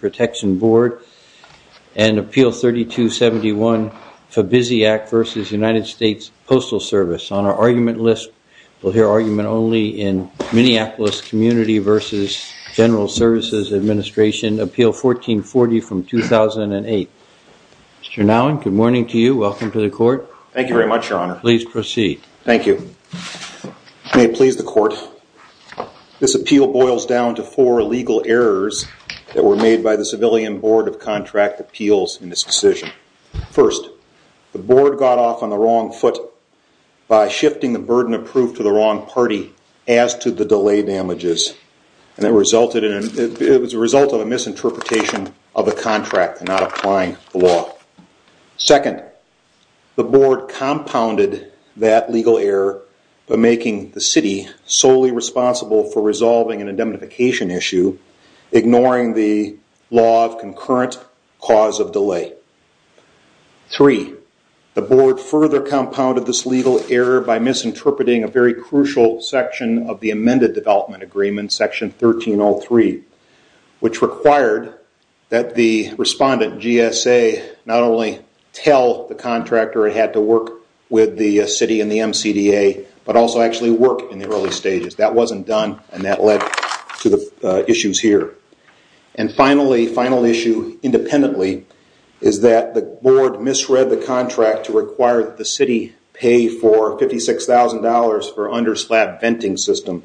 Protection Board, and Appeal 3271, Fabizi Act v. United States Postal Service. On our argument list, we'll hear argument only in Minneapolis Community v. General Services Administration, Appeal 1440 from 2008. Mr. Nowin, good morning to you. Welcome to the court. Thank you very much, Your Honor. Please proceed. Thank you. May it please the court, Your Honor. This appeal boils down to four legal errors that were made by the Civilian Board of Contract Appeals in this decision. First, the board got off on the wrong foot by shifting the burden of proof to the wrong party as to the delay damages. It was a result of a misinterpretation of the contract and not applying the law. Second, the board compounded that legal error by making the city solely responsible for resolving an indemnification issue, ignoring the law of concurrent cause of delay. Three, the board further compounded this legal error by misinterpreting a very crucial section of the amended development agreement, section 1303, which required that the respondent, GSA, not only tell the contractor it had to work with the city and the MCDA, but also actually work in the early stages. That wasn't done and that led to the issues here. And finally, final issue independently, is that the board misread the contract to require that the city pay for $56,000 for underslab venting system,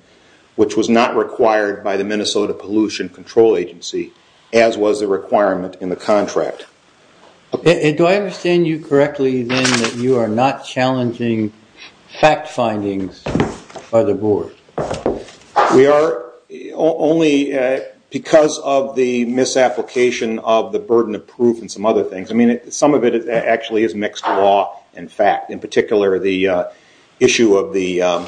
which was not required by the Minnesota Pollution Control Agency, as was the requirement in the contract. Do I understand you correctly then that you are not challenging fact findings by the board? We are only because of the misapplication of the burden of proof and some other things. Some of it actually is mixed law and fact. In particular, the issue of the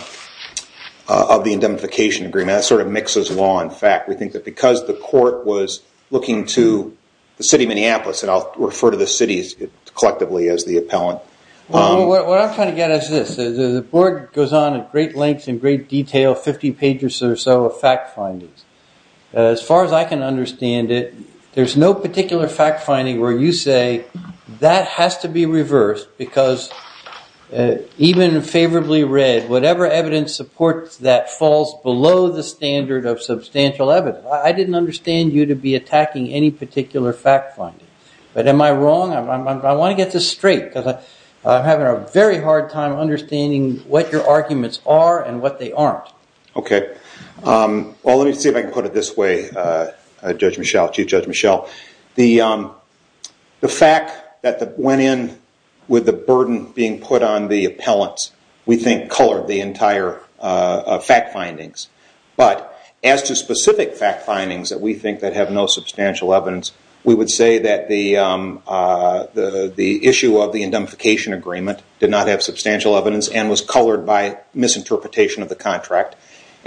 indemnification agreement, that sort of mixes law and fact. We think that because the court was looking to the city of Minneapolis, and I'll refer to the cities collectively as the appellant. What I'm trying to get at is this. The board goes on at great length and great detail, 50 pages or so of fact findings. As far as I can understand it, there's no particular fact finding where you say that has to be reversed because even favorably read, whatever evidence supports that falls below the standard of substantial evidence. I didn't understand you to be attacking any particular fact finding. Am I wrong? I want to get this straight because I'm having a very hard time understanding what your arguments are and what they aren't. Let me see if I can put it this way, Judge Michelle, Chief Judge Michelle. The fact that went in with the burden being put on the appellants, we think colored the entire fact findings. As to specific fact findings that we think that have no substantial evidence, we would say that the issue of the indemnification agreement did not have substantial evidence and was colored by misinterpretation of the contract.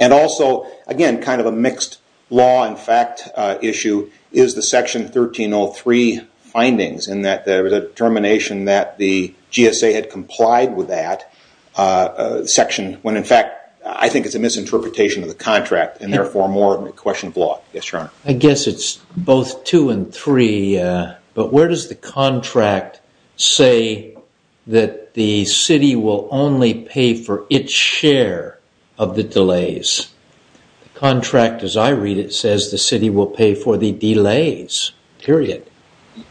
Also, again, kind of a mixed law and fact issue is the section 1303 findings in that there was a determination that the GSA had complied with that section when in fact I think it's a misinterpretation of the contract and therefore more of a question of law. Yes, Your Honor. I guess it's both two and three, but where does the contract say that the city will only pay for its share of the delays? The contract as I read it says the city will pay for the delays, period.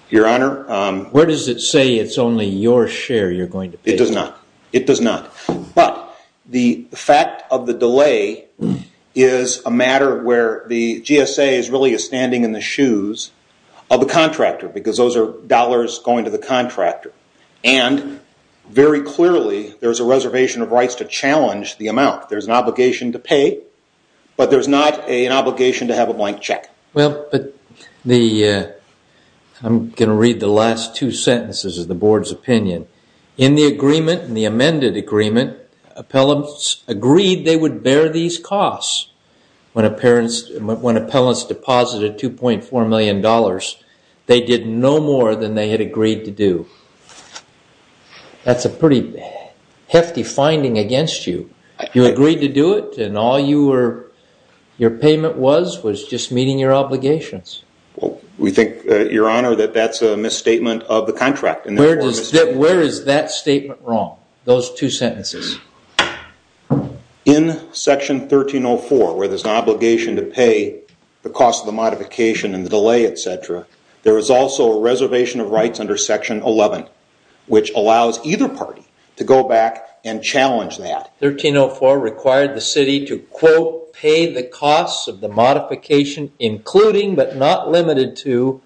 Your Honor. Where does it say it's only your share you're going to pay? It does not. It does not. The fact of the delay is a matter where the GSA is really standing in the shoes of the contractor because those are dollars going to the contractor. Very clearly, there's a reservation of rights to pay and obligation to have a blank check. I'm going to read the last two sentences of the board's opinion. In the agreement, in the amended agreement, appellants agreed they would bear these costs. When appellants deposited $2.4 million, they did no more than they had agreed to do. That's a pretty hefty finding against you. You agreed to do it and all your payment was was just meeting your obligations. We think, Your Honor, that that's a misstatement of the contract. Where is that statement wrong, those two sentences? In Section 1304, where there's an obligation to pay the cost of the modification and the delay, et cetera, there is also a reservation of rights under Section 11, which allows either party to go back and challenge that. 1304 required the city to, quote, pay the costs of the modification, including but not limited to,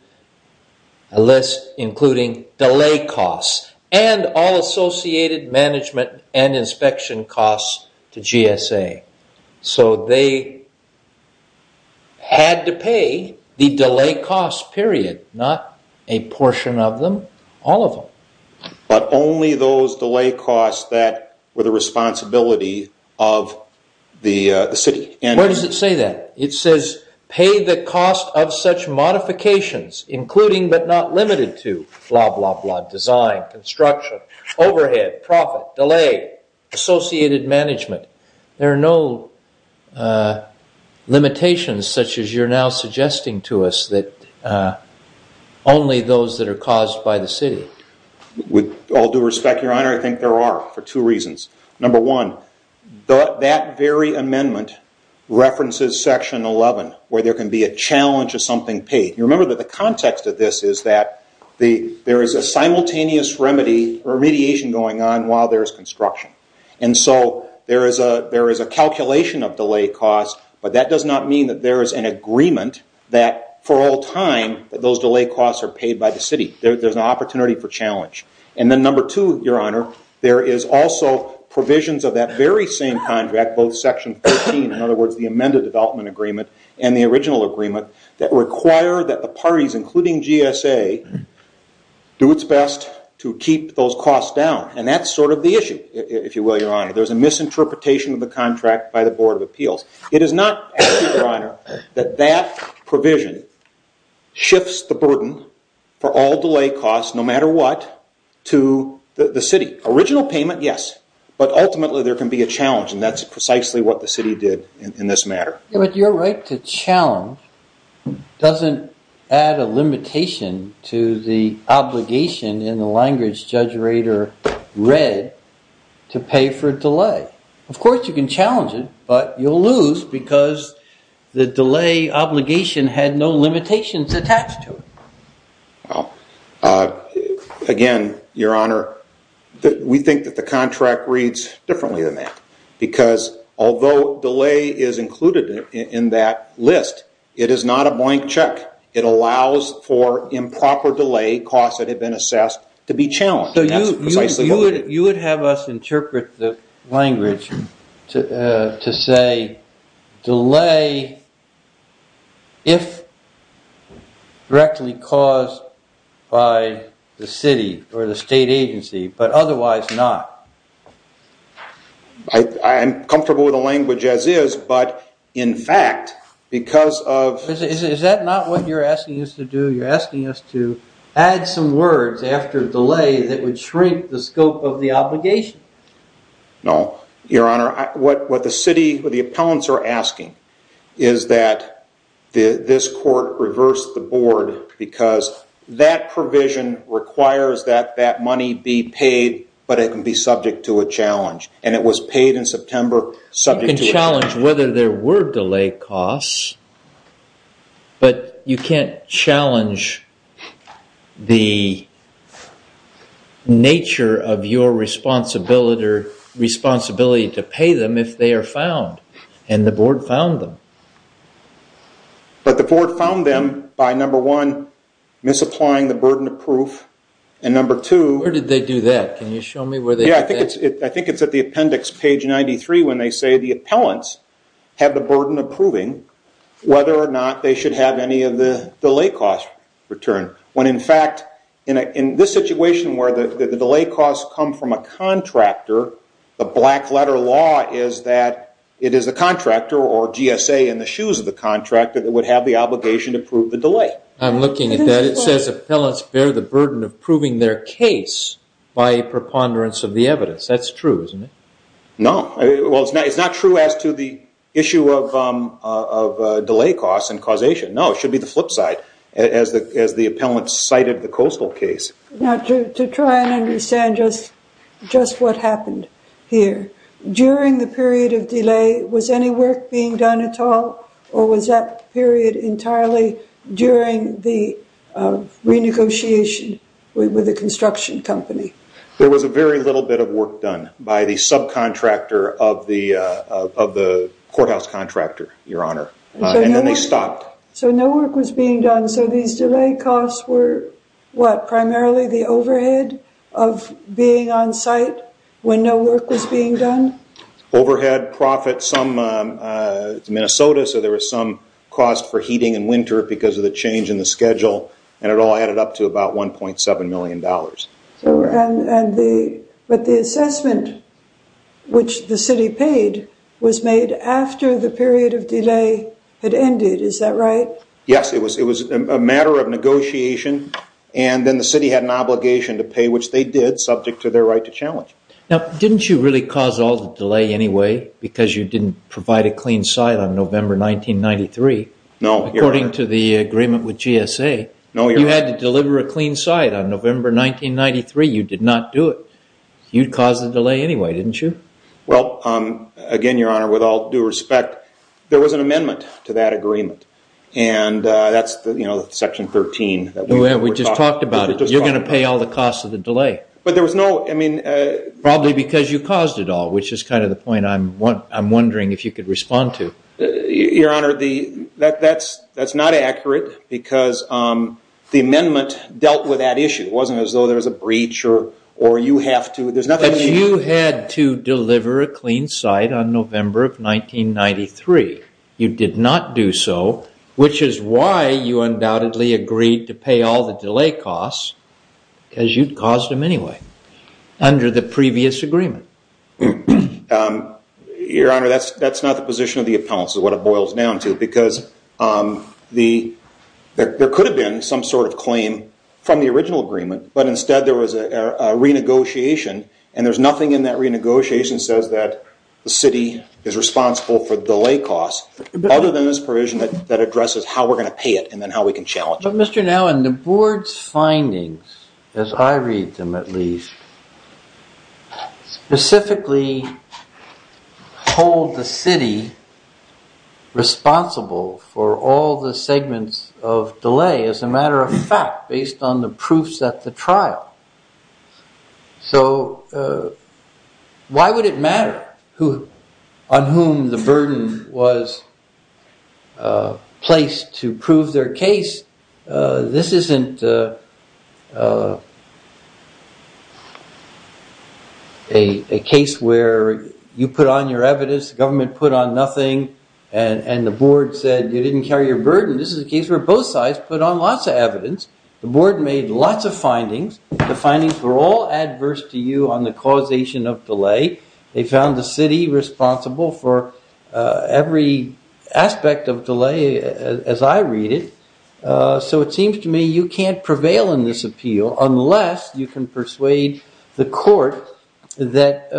a list including delay costs and all associated management and inspection costs to GSA. They had to pay the delay costs, period, not a portion of them, all of them. But only those delay costs that were the responsibility of the city. Where does it say that? It says, pay the cost of such modifications, including but not limited to, blah, blah, blah, design, construction, overhead, profit, delay, associated management. There are no limitations such as you're now suggesting to us that only those that are with all due respect, Your Honor, I think there are for two reasons. Number one, that very amendment references Section 11, where there can be a challenge of something paid. You remember that the context of this is that there is a simultaneous remediation going on while there is construction. There is a calculation of delay costs, but that does not mean that there is an agreement that for all time, that those delay costs are paid by the city. There is an opportunity for challenge. Number two, Your Honor, there is also provisions of that very same contract, both Section 13, in other words, the amended development agreement and the original agreement that require that the parties, including GSA, do its best to keep those costs down. That's sort of the issue, if you will, Your Honor. There is a misinterpretation of the contract by the Board of Appeals. It is not, Your Honor, that that provision shifts the burden for all delay costs, no matter what, to the city. Original payment, yes, but ultimately there can be a challenge and that's precisely what the city did in this matter. But your right to challenge doesn't add a limitation to the obligation in the language Judge Rader read to pay for delay. Of course, you can challenge it, but you'll lose because the delay obligation had no limitations attached to it. Again, Your Honor, we think that the contract reads differently than that because although delay is included in that list, it is not a blank check. It allows for improper delay costs that have been assessed to be challenged. You would have us interpret the language to say delay if directly caused by the city or the state agency, but otherwise not. I'm comfortable with the language as is, but in fact, because of... Is that not what you're asking us to do? You're asking us to add some words after delay that would shrink the scope of the obligation? No, Your Honor. What the city, what the appellants are asking is that this court reverse the board because that provision requires that that money be paid, but it can be subject to a challenge, and it was paid in September subject to a board delay cost, but you can't challenge the nature of your responsibility to pay them if they are found, and the board found them. But the board found them by number one, misapplying the burden of proof, and number two... Where did they do that? Can you show me where they did that? I think it's at the appendix page 93 when they say the appellants have the burden of proving whether or not they should have any of the delay cost return, when in fact, in this situation where the delay costs come from a contractor, the black letter law is that it is the contractor or GSA in the shoes of the contractor that would have the obligation to prove the delay. I'm looking at that. It says appellants bear the burden of proving their case by preponderance of the evidence. That's true, isn't it? No. Well, it's not true as to the issue of delay costs and causation. No, it should be the flip side, as the appellant cited the coastal case. Now, to try and understand just what happened here, during the period of delay, was any work being done at all, or was that period entirely during the renegotiation with the construction company? There was a very little bit of work done by the subcontractor of the courthouse contractor, Your Honor, and then they stopped. So no work was being done, so these delay costs were, what, primarily the overhead of being on site when no work was being done? Overhead, profit, some, it's Minnesota, so there was some cost for heating in winter because of the change in the schedule, and it all added up to about $1.7 million. But the assessment which the city paid was made after the period of delay had ended, is that right? Yes, it was a matter of negotiation, and then the city had an obligation to pay, which they did, subject to their right to challenge. Now, didn't you really cause all the delay anyway because you didn't provide a clean site on November 1993, according to the agreement with GSA? You had to deliver a clean site on November 1993. You did not do it. You caused the delay anyway, didn't you? Well, again, Your Honor, with all due respect, there was an amendment to that agreement, and that's, you know, Section 13. We just talked about it. You're going to pay all the costs of the delay. But there was no, I mean... Probably because you caused it all, which is kind of the point I'm wondering if you could respond to. Your Honor, that's not accurate, because the amendment dealt with that issue. It wasn't as though there was a breach or you have to. There's nothing... Because you had to deliver a clean site on November of 1993. You did not do so, which is why you undoubtedly agreed to pay all the delay costs, because you caused them anyway, under the previous agreement. Your Honor, that's not the position of the counsel, what it boils down to, because there could have been some sort of claim from the original agreement, but instead there was a renegotiation, and there's nothing in that renegotiation that says that the city is responsible for the delay costs, other than this provision that addresses how we're going to pay it and then how we can challenge it. But Mr. Nowen, the board's findings, as I read them at least, specifically hold the city responsible for all the segments of delay, as a matter of fact, based on the proofs at the trial. So why would it matter on whom the burden was placed to prove their case? This isn't a case where you put on your evidence, the government puts on your evidence, and you put on nothing, and the board said you didn't carry your burden. This is a case where both sides put on lots of evidence. The board made lots of findings. The findings were all adverse to you on the causation of delay. They found the city responsible for every aspect of delay, as I read it. So it seems to me you can't prevail in this appeal unless you can persuade the court that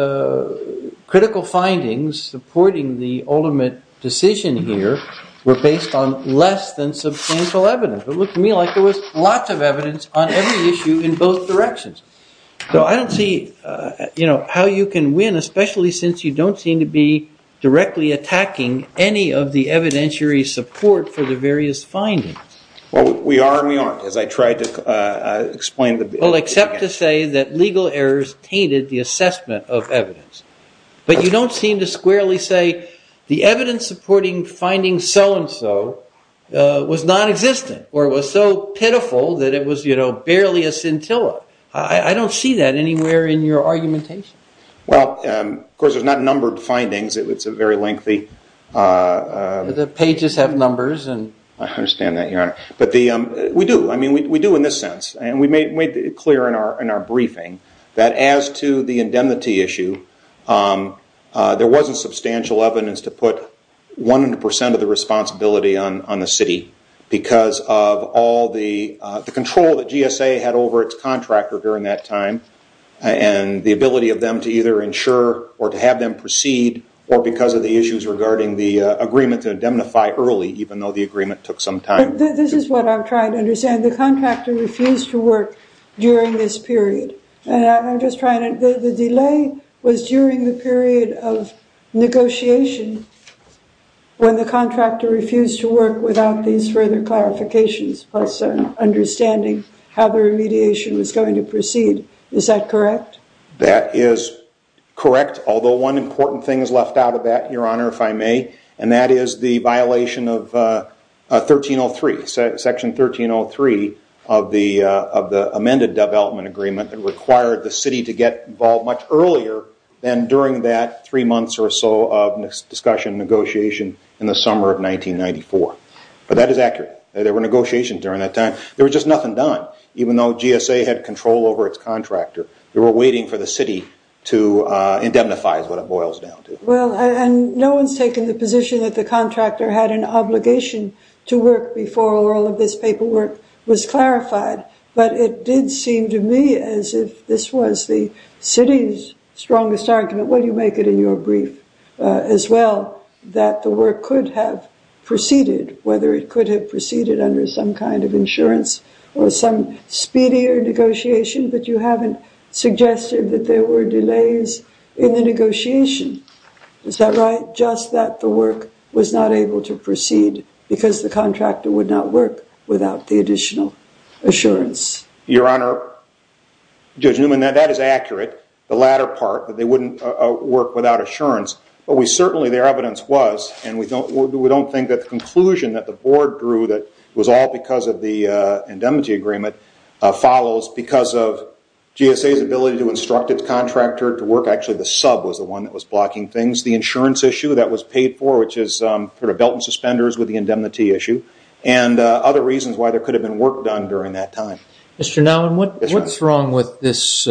critical findings supporting the ultimate decision here were based on less than substantial evidence. It looked to me like there was lots of evidence on every issue in both directions. So I don't see how you can win, especially since you don't seem to be directly attacking any of the evidentiary support for the various findings. We are and we aren't, as I tried to explain. Well, except to say that legal errors tainted the assessment of evidence. But you don't seem to squarely say the evidence supporting findings so and so was nonexistent, or was so pitiful that it was barely a scintilla. I don't see that anywhere in your argumentation. Well, of course, there's not numbered findings. It's a very lengthy... The pages have numbers. I understand that, Your Honor. But we do. We do in this sense. We made it clear in our briefing that as to the indemnity issue, there wasn't substantial evidence to put 100% of the responsibility on the city because of all the control that GSA had over its contractor during that time and the ability of them to either ensure or to have them proceed or because of the issues regarding the agreement to indemnify early, even though the agreement took some time. But this is what I'm trying to understand. The contractor refused to work during this period. And I'm just trying to... The delay was during the period of negotiation when the contractor refused to work without these conditions. And the contractor refused to proceed. Is that correct? That is correct, although one important thing is left out of that, Your Honor, if I may. And that is the violation of 1303, Section 1303 of the amended development agreement that required the city to get involved much earlier than during that three months or so of discussion, negotiation in the summer of 1994. But that is accurate. There were negotiations during that time. There was just nothing done. Even though GSA had control over its contractor, they were waiting for the city to indemnify is what it boils down to. Well, and no one's taken the position that the contractor had an obligation to work before all of this paperwork was clarified. But it did seem to me as if this was the city's strongest argument, well, you make it in your brief as well, that the work could have proceeded under some kind of insurance or some speedier negotiation, but you haven't suggested that there were delays in the negotiation. Is that right? Just that the work was not able to proceed because the contractor would not work without the additional assurance. Your Honor, Judge Newman, that is accurate, the latter part, that they wouldn't work without assurance. But we certainly... Their evidence was, and we don't think that the conclusion that the board drew that was all because of the indemnity agreement follows because of GSA's ability to instruct its contractor to work. Actually, the sub was the one that was blocking things. The insurance issue that was paid for, which is sort of belt and suspenders with the indemnity issue, and other reasons why there could have been work done during that time. Mr. Nowlin, what's wrong with this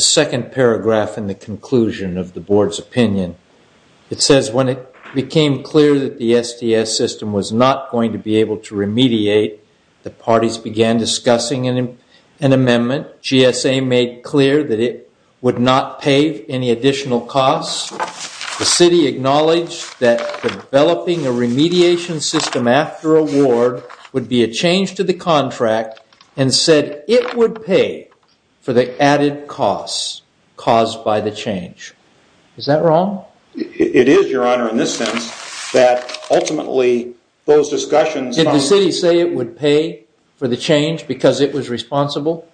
second paragraph in the conclusion of the board's opinion? It says, when it became clear that the STS system was not going to be able to remediate, the parties began discussing an amendment. GSA made clear that it would not pay any additional costs. The city acknowledged that developing a remediation system after award would be a change to the contract and said it would pay for the added costs caused by the change. Is that wrong? It is, your honor, in this sense, that ultimately those discussions... Did the city say it would pay for the change because it was responsible?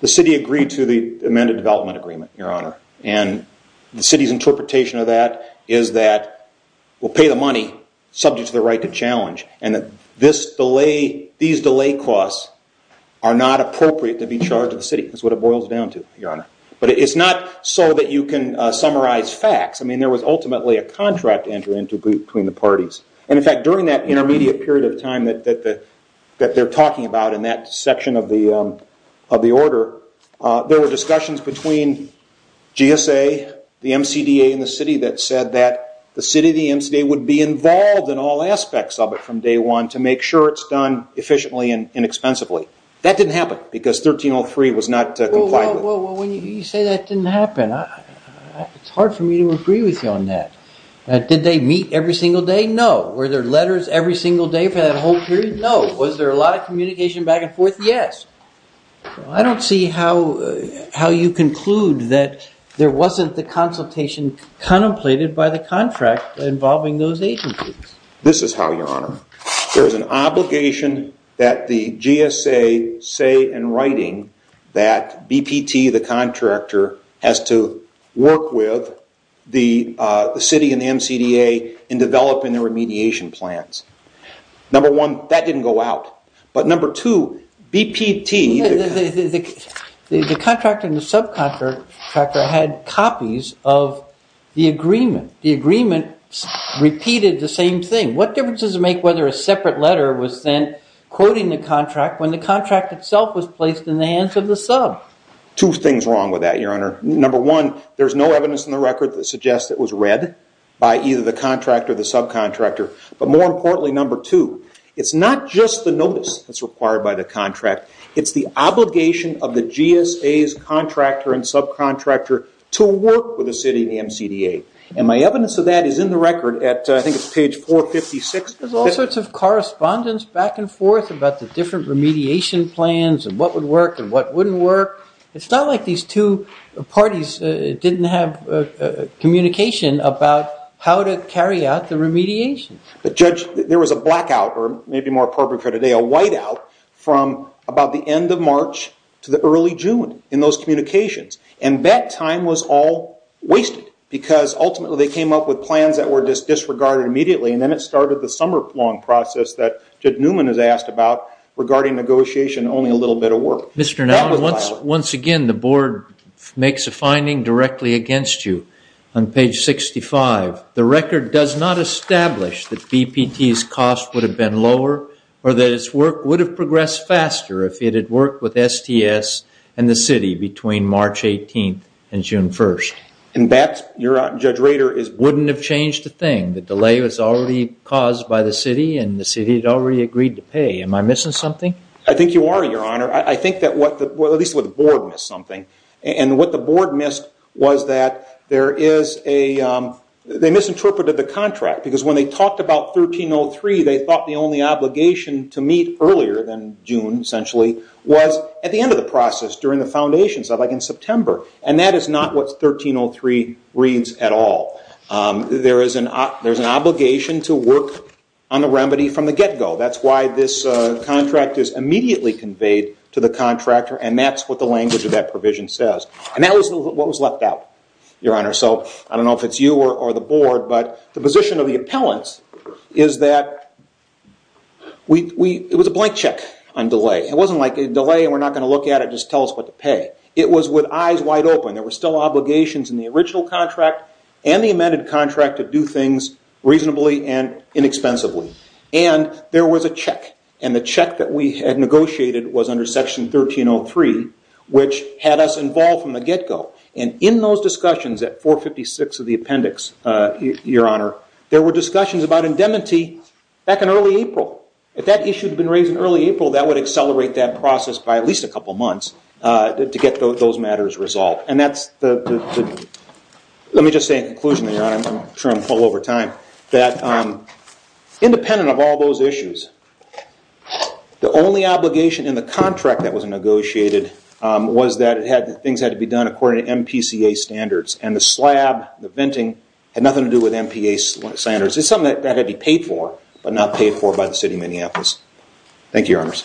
The city agreed to the amended development agreement, your honor. And the city's interpretation of that is that we'll pay the money subject to the right to challenge. And that these delay costs are not appropriate to be charged to the city. That's what it boils down to, your honor. But it's not so that you can summarize facts. I mean, there was ultimately a contract entry between the parties. And in fact, during that intermediate period of time that they're talking about in that section of the order, there were discussions between GSA, the MCDA, and the city that said that the city, the MCDA, would be involved in all aspects of it from day one to make sure it's done efficiently and inexpensively. That didn't happen because 1303 was not complied with. Well, when you say that didn't happen, it's hard for me to agree with you on that. Did they meet every single day? No. Were there letters every single day for that whole period? No. Was there a lot of communication back and forth? Yes. I don't see how you conclude that there wasn't the consultation contemplated by the contract involving those agencies. This is how, your honor. There's an obligation that the GSA say in writing that BPT, the contractor, has to work with the city and the MCDA in developing their remediation plans. Number one, that didn't go out. But number two, BPT... The contractor and the subcontractor had copies of the agreement. The agreement repeated the same thing. What difference does it make whether a separate letter was sent quoting the contract when the contract itself was placed in the hands of the sub? Two things wrong with that, your honor. Number one, there's no evidence in the record that suggests it was read by either the contractor or the subcontractor. But more importantly, number two, it's not just the notice that's required by the contract. It's the obligation of the GSA's contractor and subcontractor to work with the city and the MCDA. My evidence of that is in the record at, I think it's page 456. There's all sorts of correspondence back and forth about the different remediation plans and what would work and what wouldn't work. It's not like these two parties didn't have communication about how to carry out the remediation. But judge, there was a blackout, or maybe more appropriate for today, a whiteout from about the end of March to the early June in those communications. And that time was all because ultimately they came up with plans that were disregarded immediately. And then it started the summer long process that Judge Newman has asked about regarding negotiation only a little bit of work. Mr. Nelson, once again, the board makes a finding directly against you on page 65. The record does not establish that BPT's cost would have been lower or that its work would have progressed faster if it had worked with STS and the city between March 18th and June 1st. And that, Judge Rader, wouldn't have changed a thing. The delay was already caused by the city and the city had already agreed to pay. Am I missing something? I think you are, your honor. I think that at least the board missed something. And what the board missed was that they misinterpreted the contract. Because when they talked about 1303, they thought the only obligation to meet earlier than June, essentially, was at the end of the process during the foundation, so like in September. And that is not what 1303 reads at all. There is an obligation to work on the remedy from the get-go. That's why this contract is immediately conveyed to the contractor. And that's what the language of that provision says. And that was what was left out, your honor. So I don't know if it's you or the board, but the position of the appellants is that it was a blank check on delay. It wasn't like a delay and we're not going to look at it, tell us what to pay. It was with eyes wide open. There were still obligations in the original contract and the amended contract to do things reasonably and inexpensively. And there was a check. And the check that we had negotiated was under section 1303, which had us involved from the get-go. And in those discussions at 456 of the appendix, your honor, there were discussions about indemnity back in early April. If that issue had been raised in early April, that would get those matters resolved. Let me just say in conclusion, your honor, I'm sure I'm well over time, that independent of all those issues, the only obligation in the contract that was negotiated was that things had to be done according to MPCA standards. And the slab, the venting, had nothing to do with MPA standards. It's something that had to be paid for, but not paid for by the city of Minneapolis. Thank you, your honors.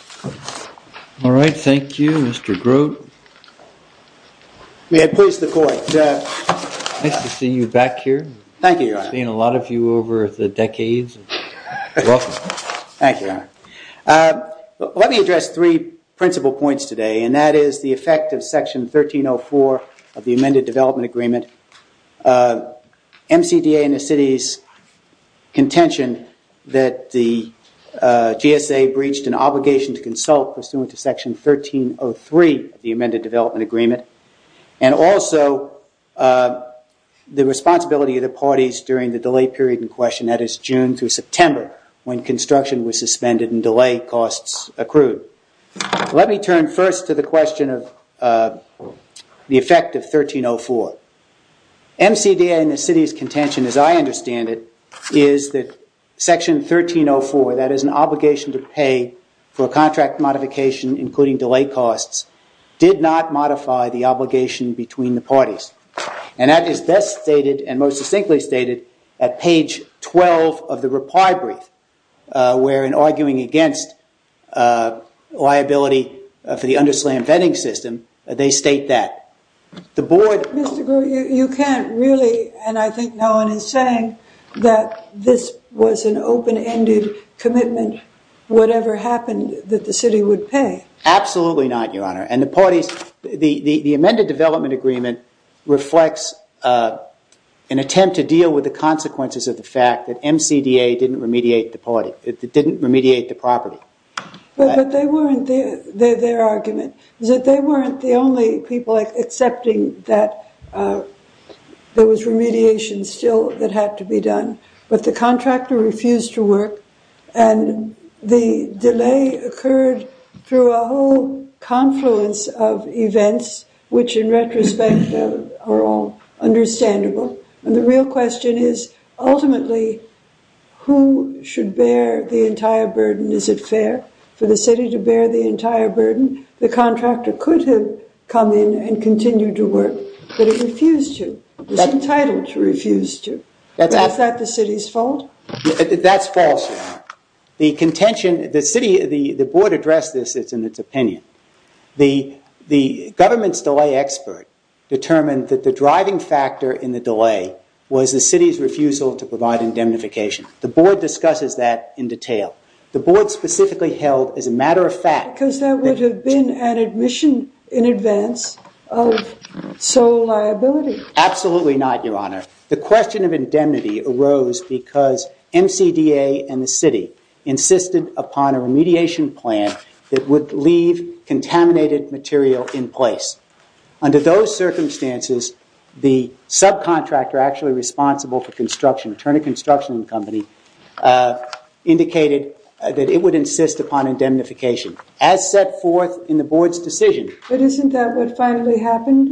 All right. Thank you, Mr. Grote. May it please the court. Nice to see you back here. Thank you, your honor. It's been a lot of you over the decades. Thank you, your honor. Let me address three principal points today, and that is the effect of section 1304 of the amended development agreement. MCDA and the city's contention that the GSA breached an obligation to consult pursuant to section 1303 of the amended development agreement, and also the responsibility of the parties during the delay period in question, that is June through September, when construction was suspended and delay costs accrued. Let me turn first to the question of the effect of 1304. MCDA and the city's contention, as I understand it, is that section 1304, that is an obligation to pay for contract modification, including delay costs, did not modify the obligation between the parties. And that is best stated and most succinctly stated at page 12 of the reply brief, where in arguing against liability for the underslammed venting system, they state that. Mr. Grew, you can't really, and I think no one is saying, that this was an open-ended commitment, whatever happened, that the city would pay. Absolutely not, your honor. And the parties, the amended development agreement reflects an attempt to deal with the consequences of the fact that MCDA didn't remediate the property. But they weren't, their argument, is that they weren't the only people accepting that there was remediation still that had to be done. But the contractor refused to work and the delay occurred through a whole confluence of events, which in retrospect are all understandable. And the real question is, ultimately, who should bear the entire burden? Is it fair for the city to bear the entire burden? The contractor could have come in and continued to work, but he refused to, was entitled to refuse to. Is that the city's fault? That's false, your honor. The contention, the city, the board addressed this in its opinion. The government's delay expert determined that the driving factor in the delay was the city's refusal to provide indemnification. The board discusses that in detail. The board specifically held, as a matter of fact. Because that would have been an admission in advance of sole liability. Absolutely not, your honor. The question of indemnity arose because MCDA and the city insisted upon a remediation plan that would leave contaminated material in place. Under those circumstances, the subcontractor actually responsible for construction, Turner Construction Company, indicated that it would insist upon indemnification. As set forth in the board's decision. But isn't that what finally happened?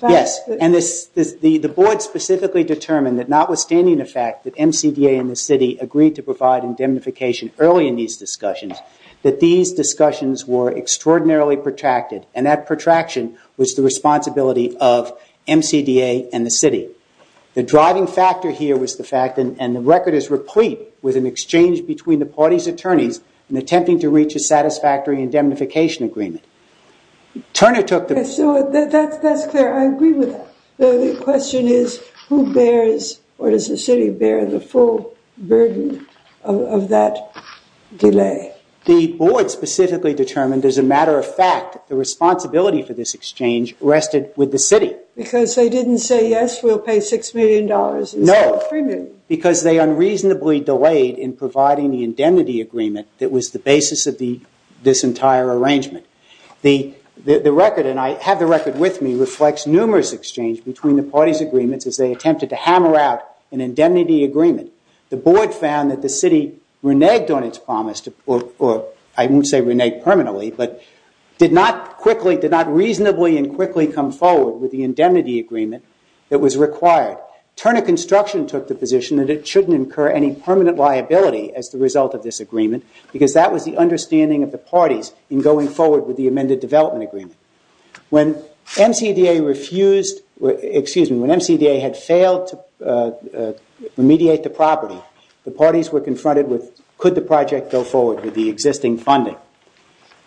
Yes. And the board specifically determined that notwithstanding the fact that MCDA and the city agreed to provide indemnification early in these discussions, that these discussions were extraordinarily protracted. And that protraction was the responsibility of MCDA and the city. The driving factor here was the fact and the record is replete with an exchange between the party's attorneys in attempting to reach a satisfactory indemnification agreement. Turner took the... So that's clear. I agree with that. The question is, who bears or does the city bear the full burden of that delay? The board specifically determined as a matter of fact, the responsibility for this exchange rested with the city. Because they didn't say, yes, we'll pay $6 million instead of $3 million. No. Because they unreasonably delayed in providing the indemnity agreement that was the basis of this entire arrangement. The record, and I have the record with me, reflects numerous exchange between the party's agreements as they attempted to hammer out an indemnity agreement. The board found that the city reneged on its promise, or I won't say reneged permanently, but did not reasonably and quickly come forward with the indemnity agreement that was required. Turner Construction took the position that it shouldn't incur any permanent liability as the result of this agreement, because that was the understanding of the parties in going forward with the amended development agreement. When MCDA refused... Excuse me. When MCDA had failed to remediate the property, the parties were confronted with, could the project go forward with the existing funding?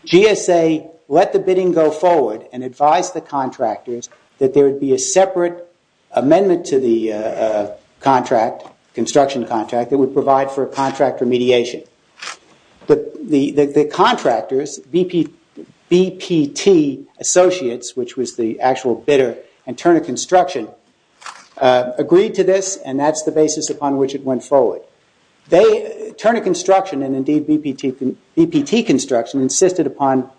GSA let the bidding go forward and advised the contractors that there would be a separate amendment to the construction contract that would provide for contractor mediation. But the contractors, BPT Associates, which was the actual bidder, and Turner Construction agreed to this, and that's the basis upon which it went forward. Turner Construction and indeed BPT Construction insisted upon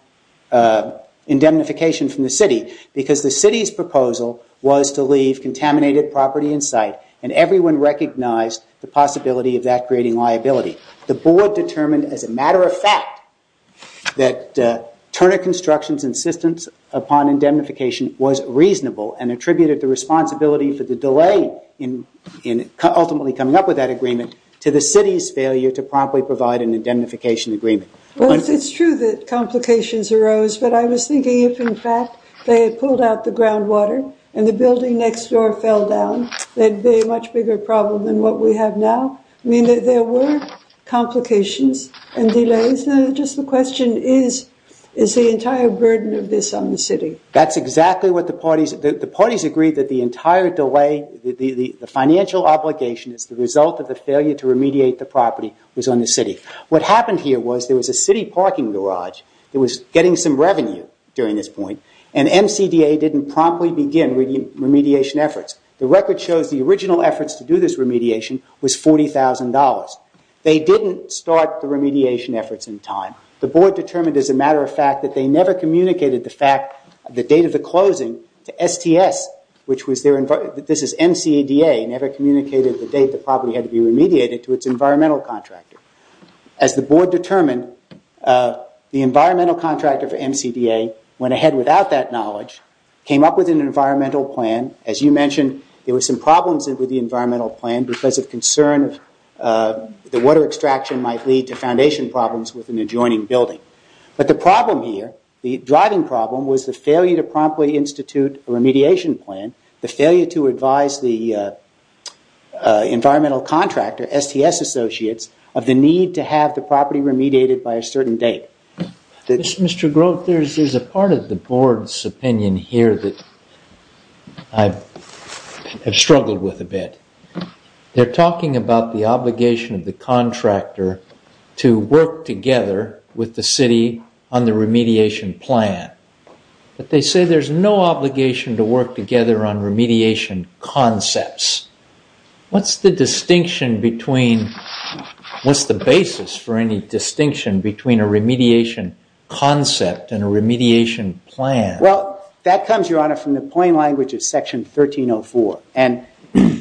indemnification from the city, because the city's proposal was to leave contaminated property in sight, and everyone recognized the possibility of that creating liability. The board determined as a matter of fact that Turner Construction's insistence upon indemnification was reasonable and attributed the responsibility for the delay in ultimately coming up with that agreement to the city's failure to promptly provide an indemnification agreement. Well, it's true that complications arose, but I was thinking if in fact they had pulled out the groundwater and the building next door fell down, there'd be a much bigger problem than what we have now. I mean, there were complications and delays, and just the question is, is the entire burden of this on the city? That's exactly what the parties... The parties agreed that the entire delay, the financial obligation as the result of the failure to remediate the property was on the city. What happened here was there was a city parking garage that was getting some revenue during this point, and MCDA didn't promptly begin remediation efforts. The record shows the original efforts to do this remediation was $40,000. They didn't start the remediation efforts in time. The board determined as a matter of fact that they never communicated the date of the closing to STS, which was their... This is MCDA, never communicated the date the property had to be remediated to its environmental contractor. As the board determined, the environmental contractor for MCDA went ahead without that knowledge, came up with an environmental plan. As you mentioned, there were some problems with the environmental plan because of concern that water extraction might lead to foundation problems with an adjoining building. But the problem here, the driving problem was the failure to promptly institute a remediation plan, the failure to advise the environmental contractor, STS associates, of the need to have the property remediated by a certain date. Mr. Groat, there's a part of the board's opinion here that I have struggled with a bit. They're talking about the obligation of the contractor to work together with the city on the remediation plan. But they say there's no obligation to work together on remediation concepts. What's the distinction between... What's the basis for any distinction between a remediation concept and a remediation plan? Well, that comes, Your Honor, from the plain language of Section 1304. And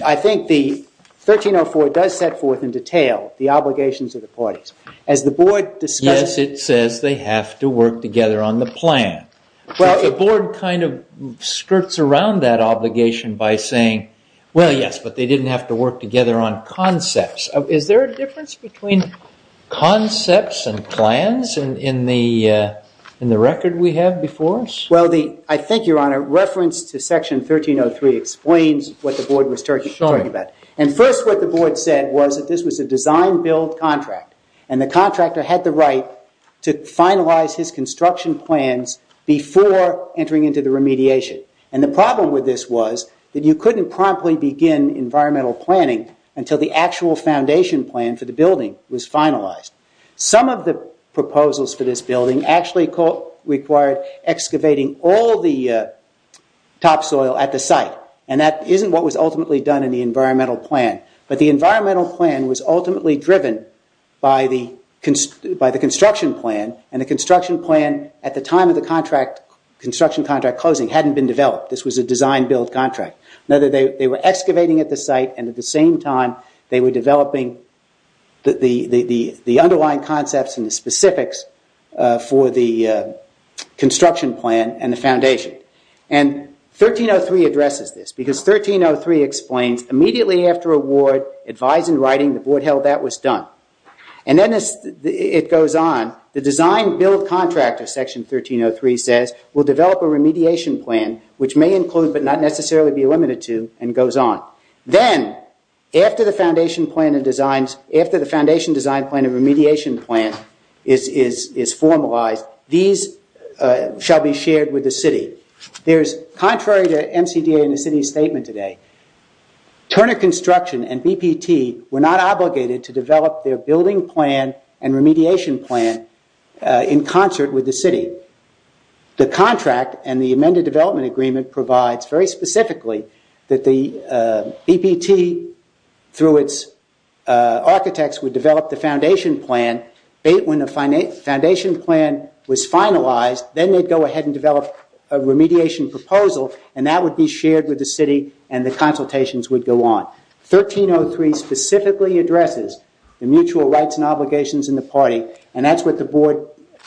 I think the parties, as the board discusses... Yes, it says they have to work together on the plan. Well, the board kind of skirts around that obligation by saying, well, yes, but they didn't have to work together on concepts. Is there a difference between concepts and plans in the record we have before us? Well, I think, Your Honor, reference to Section 1303 explains what the board was talking about. And first, what the board said was that this was a design-build contract. And the contractor had the right to finalize his construction plans before entering into the remediation. And the problem with this was that you couldn't promptly begin environmental planning until the actual foundation plan for the building was finalized. Some of the proposals for this building actually required excavating all the topsoil at the site. And that isn't what was ultimately done in the environmental plan. But the environmental plan was ultimately driven by the construction plan. And the construction plan, at the time of the construction contract closing, hadn't been developed. This was a design-build contract. Now, they were excavating at the site, and at the same time, they were developing the underlying concepts and the specifics for the construction plan and the foundation. And 1303 addresses this. Because 1303 explains, immediately after award, advise in writing, the board held that was done. And then it goes on. The design-build contract of Section 1303 says, we'll develop a remediation plan, which may include but not necessarily be limited to, and goes on. Then, after the foundation design plan and remediation plan is formalized, these shall be shared with the city. Contrary to MCDA and the city's statement today, Turner Construction and BPT were not obligated to develop their building plan and remediation plan in concert with the city. The contract and the amended development agreement provides, very specifically, that the BPT, through its architects, would develop the foundation plan, when the foundation plan was finalized, then they'd go ahead and develop a remediation proposal, and that would be shared with the city, and the consultations would go on. 1303 specifically addresses the mutual rights and obligations in the party, and that's what the board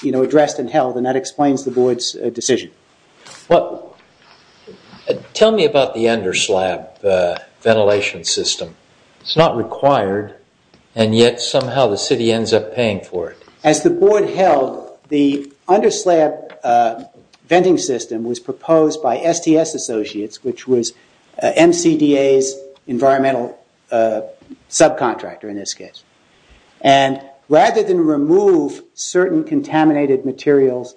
addressed and held, and that explains the board's decision. Tell me about the underslab ventilation system. It's not required, and yet somehow the city ends up paying for it. As the board held, the underslab venting system was proposed by STS Associates, which was MCDA's environmental subcontractor, in this case, and rather than remove certain contaminated materials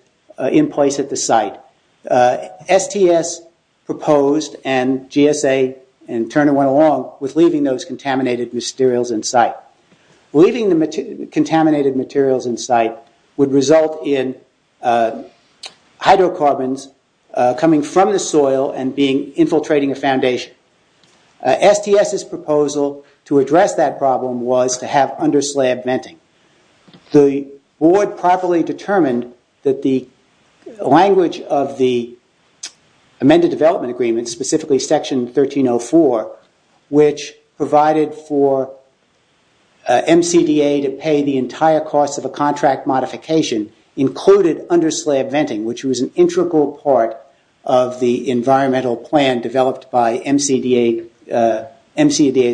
in place at the site, STS proposed and GSA and Turner went along with leaving those contaminated materials in sight. Leaving the contaminated materials in sight would result in hydrocarbons coming from the soil and being infiltrating a foundation. STS's proposal to address that problem was to have underslab venting. The board properly determined that the language of the amended development agreement, specifically section 1304, which provided for MCDA to pay the entire cost of a contract modification, included underslab venting, which was an integral part of the environmental plan developed by MCDA's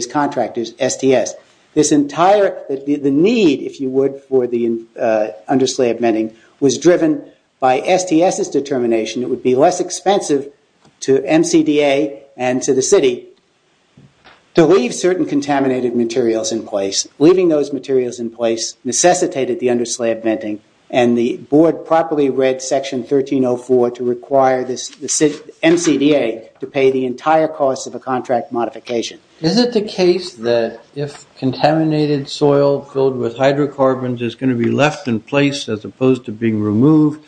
contractors, STS. The need, if you would, for the underslab venting was driven by STS's determination it would be less expensive to MCDA and to the city to leave certain contaminated materials in place. Leaving those materials in place necessitated the underslab venting, and the board properly read section 1304 to require MCDA to pay the entire cost of a contract modification. Is it the case that if contaminated soil filled with hydrocarbons is going to be left in place as opposed to being removed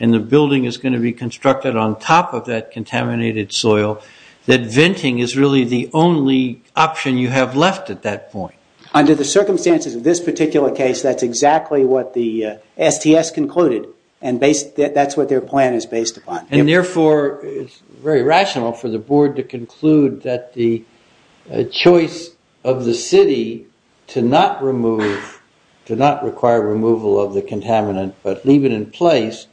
and the building is going to be constructed on top of that contaminated soil, that venting is really the only option you have left at that point? Under the circumstances of this particular case, that's exactly what the STS concluded, and that's what their plan is based upon. And therefore, it's very rational for the board to conclude that the choice of the city to not require removal of the contaminant but leave it in place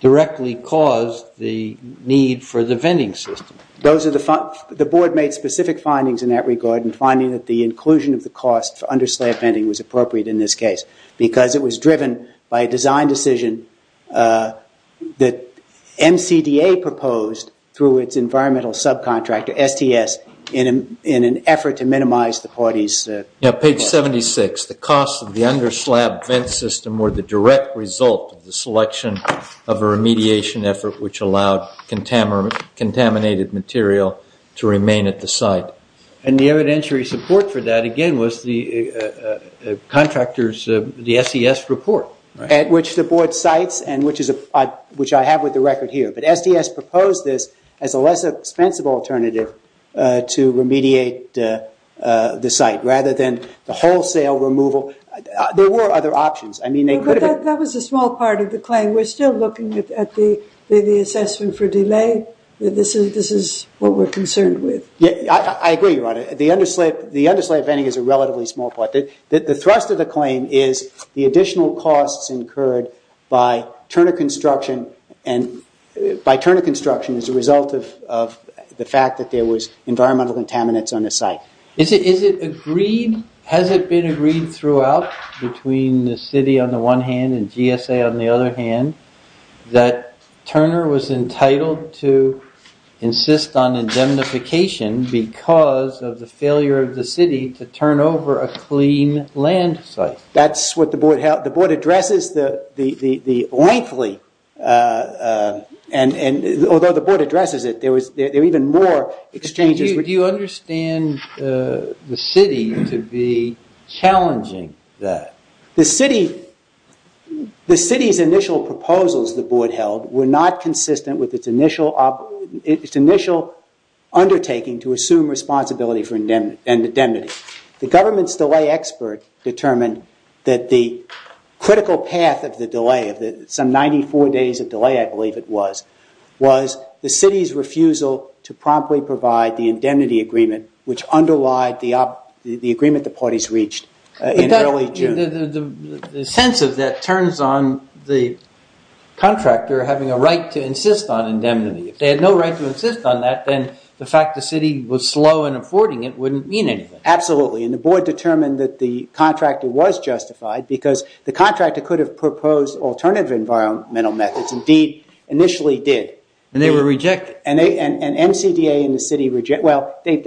directly caused the need for the venting system. The board made specific findings in that regard in finding that the inclusion of the cost for underslab venting was appropriate in this case, because it was driven by a design decision that MCDA proposed through its environmental subcontractor, STS, in an effort to minimize the parties. Page 76, the cost of the underslab vent system were the direct result of the selection of a remediation effort which allowed contaminated material to remain at the site. And the evidentiary support for that, again, was the contractor's, the SES report. At which the board cites and which I have with the record here. But SDS proposed this as a less expensive alternative to remediate the site rather than the wholesale removal. There were other options. I mean, they could have... We're still looking at the assessment for delay. This is what we're concerned with. Yeah, I agree, Your Honor. The underslab venting is a relatively small part. The thrust of the claim is the additional costs incurred by Turner Construction as a result of the fact that there was environmental contaminants on the site. Has it been agreed throughout between the city on one hand and GSA on the other hand that Turner was entitled to insist on indemnification because of the failure of the city to turn over a clean land site? That's what the board... The board addresses the... Although the board addresses it, there were even more exchanges... Do you understand the city to be challenging that? The city's initial proposals, the board held, were not consistent with its initial undertaking to assume responsibility for indemnity. The government's delay expert determined that the critical path of the delay of some 94 days of the indemnity agreement, which underlied the agreement the parties reached in early June. The sense of that turns on the contractor having a right to insist on indemnity. If they had no right to insist on that, then the fact the city was slow in affording it wouldn't mean anything. Absolutely. And the board determined that the contractor was justified because the contractor could have proposed alternative environmental methods, indeed, initially did. And they were they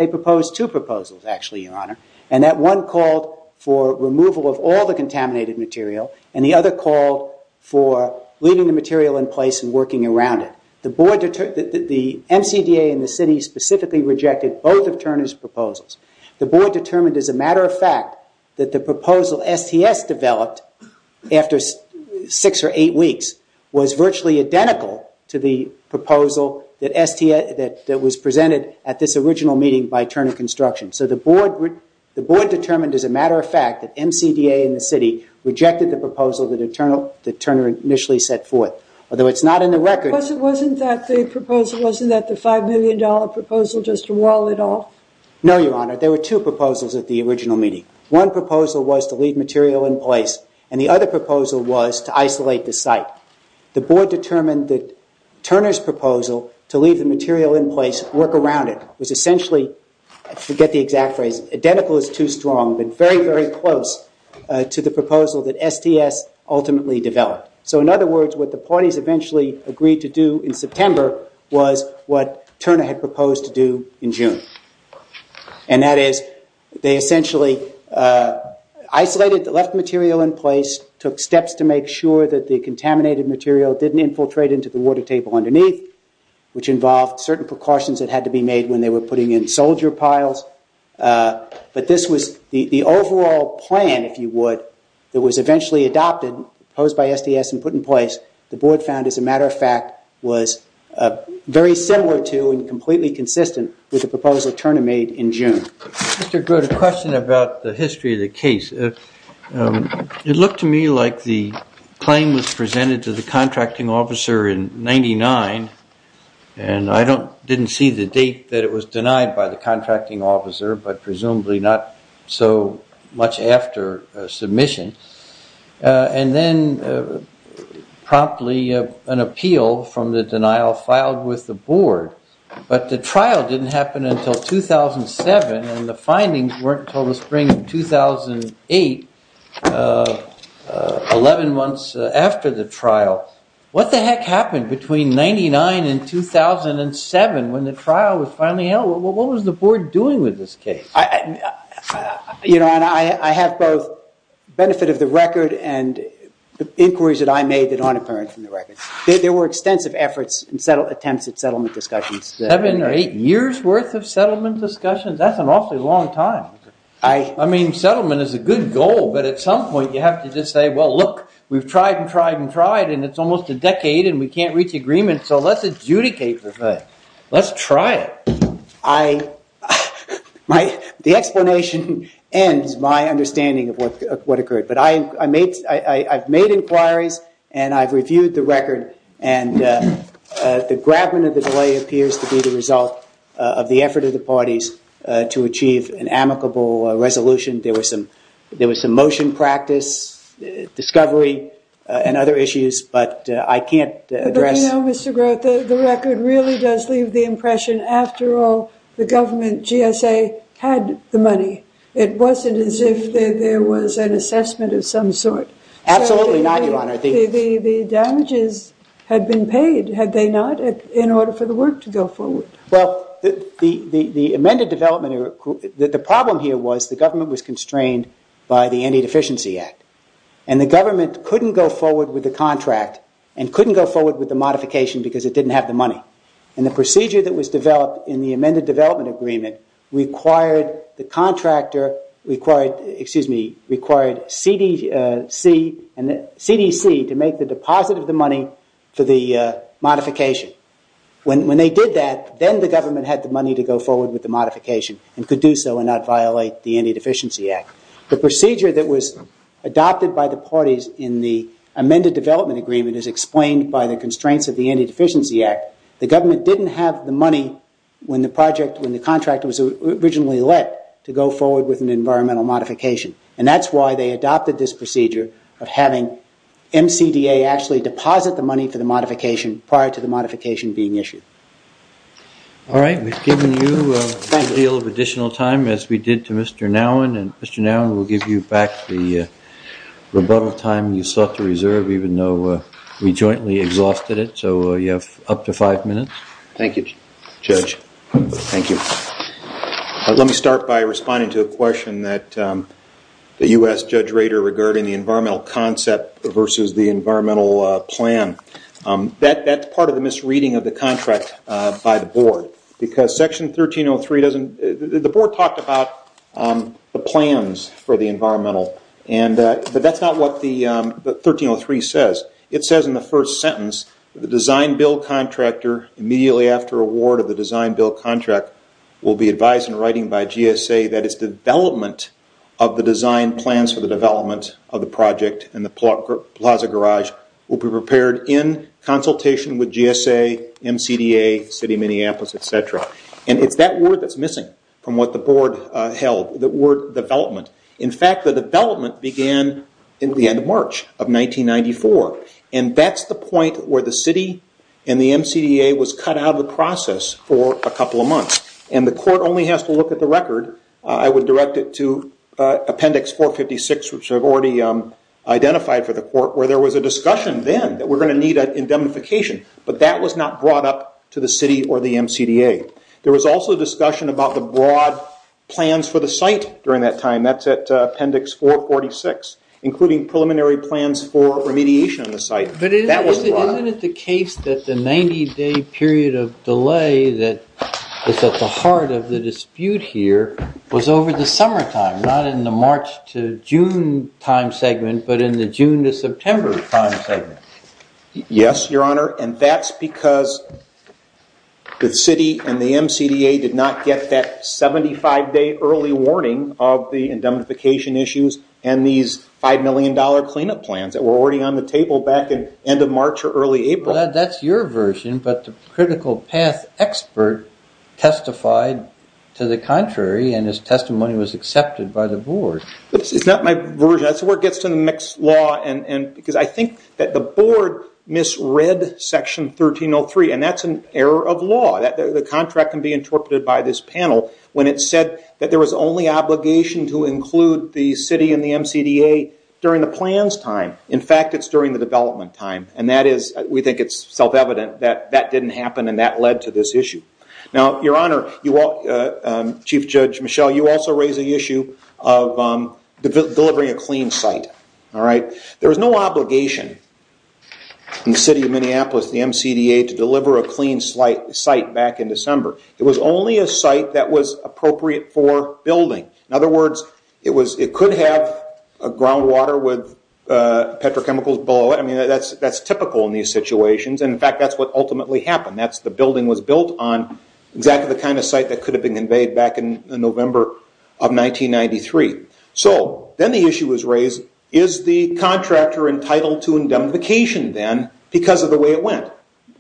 proposed two proposals actually, your honor. And that one called for removal of all the contaminated material and the other called for leaving the material in place and working around it. The MCDA and the city specifically rejected both of Turner's proposals. The board determined as a matter of fact that the proposal STS developed after six or eight weeks was virtually identical to the proposal that STS that was presented at this original meeting by Turner Construction. So the board, the board determined as a matter of fact that MCDA and the city rejected the proposal that Turner initially set forth. Although it's not in the record. Wasn't that the proposal, wasn't that the five million dollar proposal just to wall it off? No, your honor. There were two proposals at the original meeting. One proposal was to leave material in place and the other proposal was to isolate the site. The board determined that Turner's proposal to leave the material in place, work around it, was essentially, I forget the exact phrase, identical is too strong, but very, very close to the proposal that STS ultimately developed. So in other words, what the parties eventually agreed to do in September was what Turner had proposed to do in June. And that is they essentially isolated, left material in place, took steps to make sure that the contaminated material didn't infiltrate into the water table underneath, which involved certain precautions that had to be made when they were putting in soldier piles. But this was the overall plan, if you would, that was eventually adopted, proposed by STS and put in place. The board found, as a matter of fact, was very similar to and completely consistent with the proposal Turner made in June. Mr. Grote, a question about the history of the case. It looked to me like the claim was presented to the contracting officer in 99 and I didn't see the date that it was denied by the contracting officer, but presumably not so much after submission. And then promptly an appeal from the denial filed with the board, but the trial didn't happen until 2007 and the findings weren't until the spring of 2008, 11 months after the trial. What the heck happened between 99 and 2007 when the trial was finally held? What was the board doing with this case? You know, and I have both benefit of the record and inquiries that I made that aren't apparent from the records. There were extensive efforts and attempts at settlement discussions. Seven or eight years worth of settlement discussions, that's an awfully long time. I mean, settlement is a good goal, but at some point you have to just say, well, look, we've tried and tried and tried and it's almost a decade and we can't reach agreement, so let's adjudicate for good. Let's try it. The explanation ends my understanding of what occurred, but I've made inquiries and I've reviewed the record and the grabment of the delay appears to be the result of the effort of the parties to achieve an amicable resolution. There was some motion practice, discovery, and other issues, but I can't address- You know, Mr. Groth, the record really does leave the impression, after all, the government, GSA, had the money. It wasn't as if there was an assessment of some sort. Absolutely not, Your Honor. The damages had been paid, had they not, in order for the work to go forward? Well, the amended development, the problem here was the government was constrained by the Antideficiency Act, and the government couldn't go forward with the contract and couldn't go forward with the modification because it didn't have the money. And the procedure that was developed in the amended development agreement required the contractor, excuse me, required CDC to make the deposit of the money for the modification. When they did that, then the government had the money to go forward with the modification and could do so and not violate the Antideficiency Act. The procedure that was adopted by the parties in the amended development agreement is explained by the constraints of the Antideficiency Act. The government didn't have the money when the contract was originally let to go forward with an environmental modification, and that's why they adopted this procedure of having MCDA actually deposit the money for the modification prior to the modification being issued. All right, we've given you a good deal of additional time as we did to Mr. Nowin, and Mr. Nowin will give you back the rebuttal time you sought to reserve, even though we jointly exhausted it. So you have up to five minutes. Thank you, Judge. Thank you. Let me start by responding to a question that you asked Judge Rader regarding the environmental concept versus the environmental plan. That part of the misreading of the contract by the board, because Section 1303 doesn't... The board talked about the plans for the environmental, but that's not what the 1303 says. It says in the first sentence, the design-build contractor immediately after award of the design-build contract will be advised in writing by GSA that its development of the design plans for the development of the project in the Plaza Garage will be prepared in consultation with GSA, MCDA, City of Minneapolis, etc. It's that word that's missing from what the board held, the word development. In fact, the development began at the end of March of 1994, and that's the point where the city and the MCDA was cut out of the process for a couple of months. The court only has to look at the record. I would direct it to Appendix 456, which I've already identified for the court, where there was a discussion then that we're going to need indemnification, but that was not brought up to the city or the MCDA. There was also a discussion about the broad plans for the site during that time. That's at Appendix 446, including preliminary plans for remediation of the site. That was brought up. Isn't it the case that the 90-day period of delay that is at the heart of the dispute here was over the summertime, not in the March to June time segment, but in the June to September time segment? Yes, Your Honor, and that's because the city and the MCDA did not get that 75-day early warning of the indemnification issues and these $5 million cleanup plans that were already on the table back at the end of March or early April. That's your version, but the critical path expert testified to the contrary, and his testimony was accepted by the board. It's not my version. That's where it gets to the mixed law, because I think that the board misread Section 1303, and that's an error of law. The contract can be interpreted by this panel when it said that there was only obligation to include the city and the MCDA during the plans time. In fact, it's during the development time. We think it's self-evident that that didn't happen and that led to this issue. Now, Your Honor, Chief Judge Michel, you also raise the issue of delivering a clean site. There was no obligation in the city of Minneapolis, the MCDA, to deliver a clean site back in December. It was only a site that was appropriate for building. In other words, it could have groundwater with petrochemicals below it. That's typical in these buildings. The building was built on exactly the kind of site that could have been conveyed back in November of 1993. Then the issue was raised, is the contractor entitled to indemnification then because of the way it went?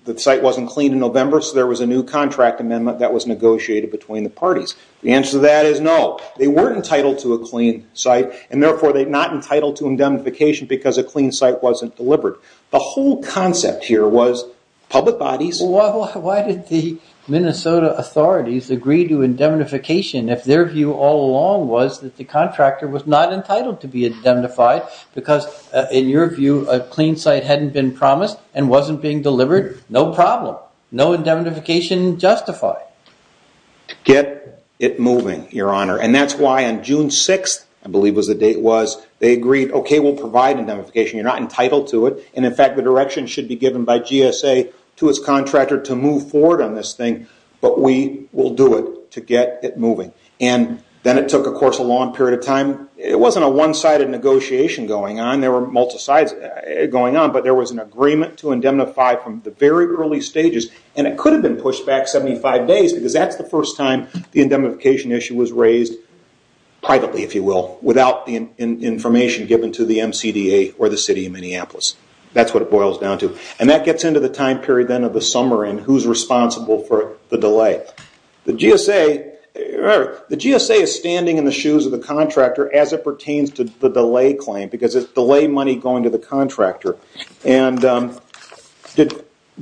The site wasn't clean in November, so there was a new contract amendment that was negotiated between the parties. The answer to that is no. They weren't entitled to a clean site, and therefore they're not entitled to indemnification because a clean site wasn't delivered. The whole concept here was public bodies... Why did the Minnesota authorities agree to indemnification if their view all along was that the contractor was not entitled to be indemnified because, in your view, a clean site hadn't been promised and wasn't being delivered? No problem. No indemnification justified. To get it moving, Your Honor. That's why on June 6th, I believe the date was, they agreed, OK, we'll provide indemnification. You're not entitled to it. In fact, the direction should be given by GSA to its contractor to move forward on this thing, but we will do it to get it moving. Then it took a long period of time. It wasn't a one-sided negotiation going on. There were multiple sides going on, but there was an agreement to indemnify from the very early stages. It could have been pushed back 75 days because that's the first time the indemnification issue was raised privately, if you will, without the information given to the MCDA or the City of Minneapolis. That's what it boils down to. That gets into the time period then of the summer and who's responsible for the delay. The GSA is standing in the shoes of the contractor as it pertains to the delay claim because it's delay money going to the contractor.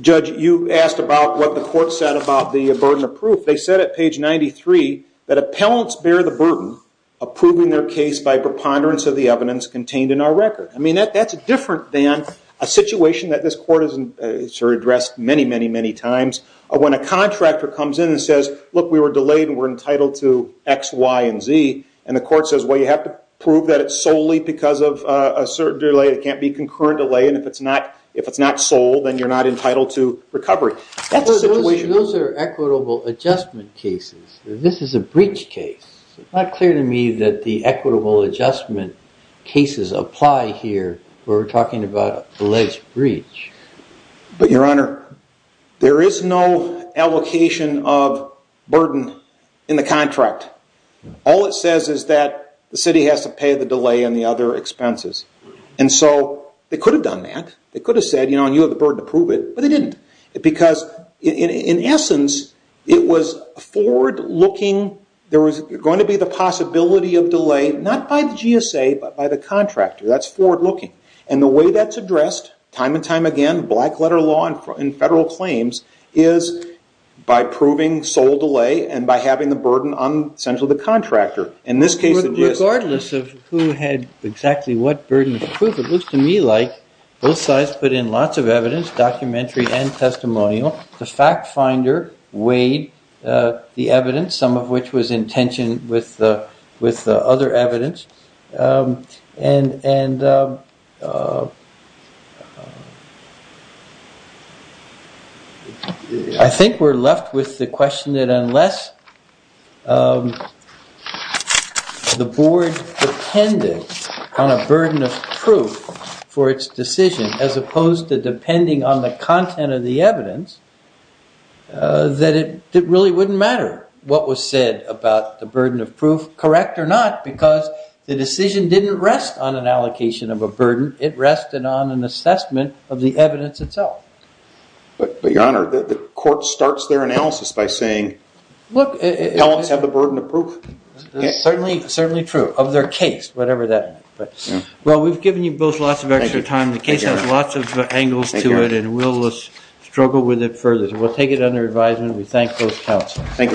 Judge, you asked about what the court said about the burden of proof. They said at page 93 that appellants bear the burden of proving their case by preponderance of the evidence contained in our record. That's different than a situation that this court has addressed many, many, many times when a contractor comes in and says, look, we were delayed and we're entitled to X, Y, and Z. The court says, well, you have to prove that it's solely because of a certain delay. It can't be a concurrent delay. If it's not sold, then you're not entitled to recovery. Those are equitable adjustment cases. This is a breach case. It's not clear to me that the equitable adjustment cases apply here where we're talking about alleged breach. But, Your Honor, there is no allocation of burden in the contract. All it says is that the city has to the delay and the other expenses. They could have done that. They could have said you have the burden to prove it, but they didn't because in essence, it was forward looking. There was going to be the possibility of delay, not by the GSA, but by the contractor. That's forward looking. The way that's addressed time and time again, black letter law in federal claims is by proving sole delay and by having the burden on essentially the contractor. In this case, the GSA. In terms of who had exactly what burden to prove, it looks to me like both sides put in lots of evidence, documentary and testimonial. The fact finder weighed the evidence, some of which was on a burden of proof for its decision as opposed to depending on the content of the evidence, that it really wouldn't matter what was said about the burden of proof, correct or not, because the decision didn't rest on an allocation of a burden. It rested on an assessment of the evidence itself. But, Your Honor, the court starts their analysis by saying tell us of the burden of proof. Certainly true. Of their case, whatever that is. We've given you both lots of extra time. The case has lots of angles to it and we'll struggle with it further. We'll take it under advisement. We thank both counsels. Thank you very much.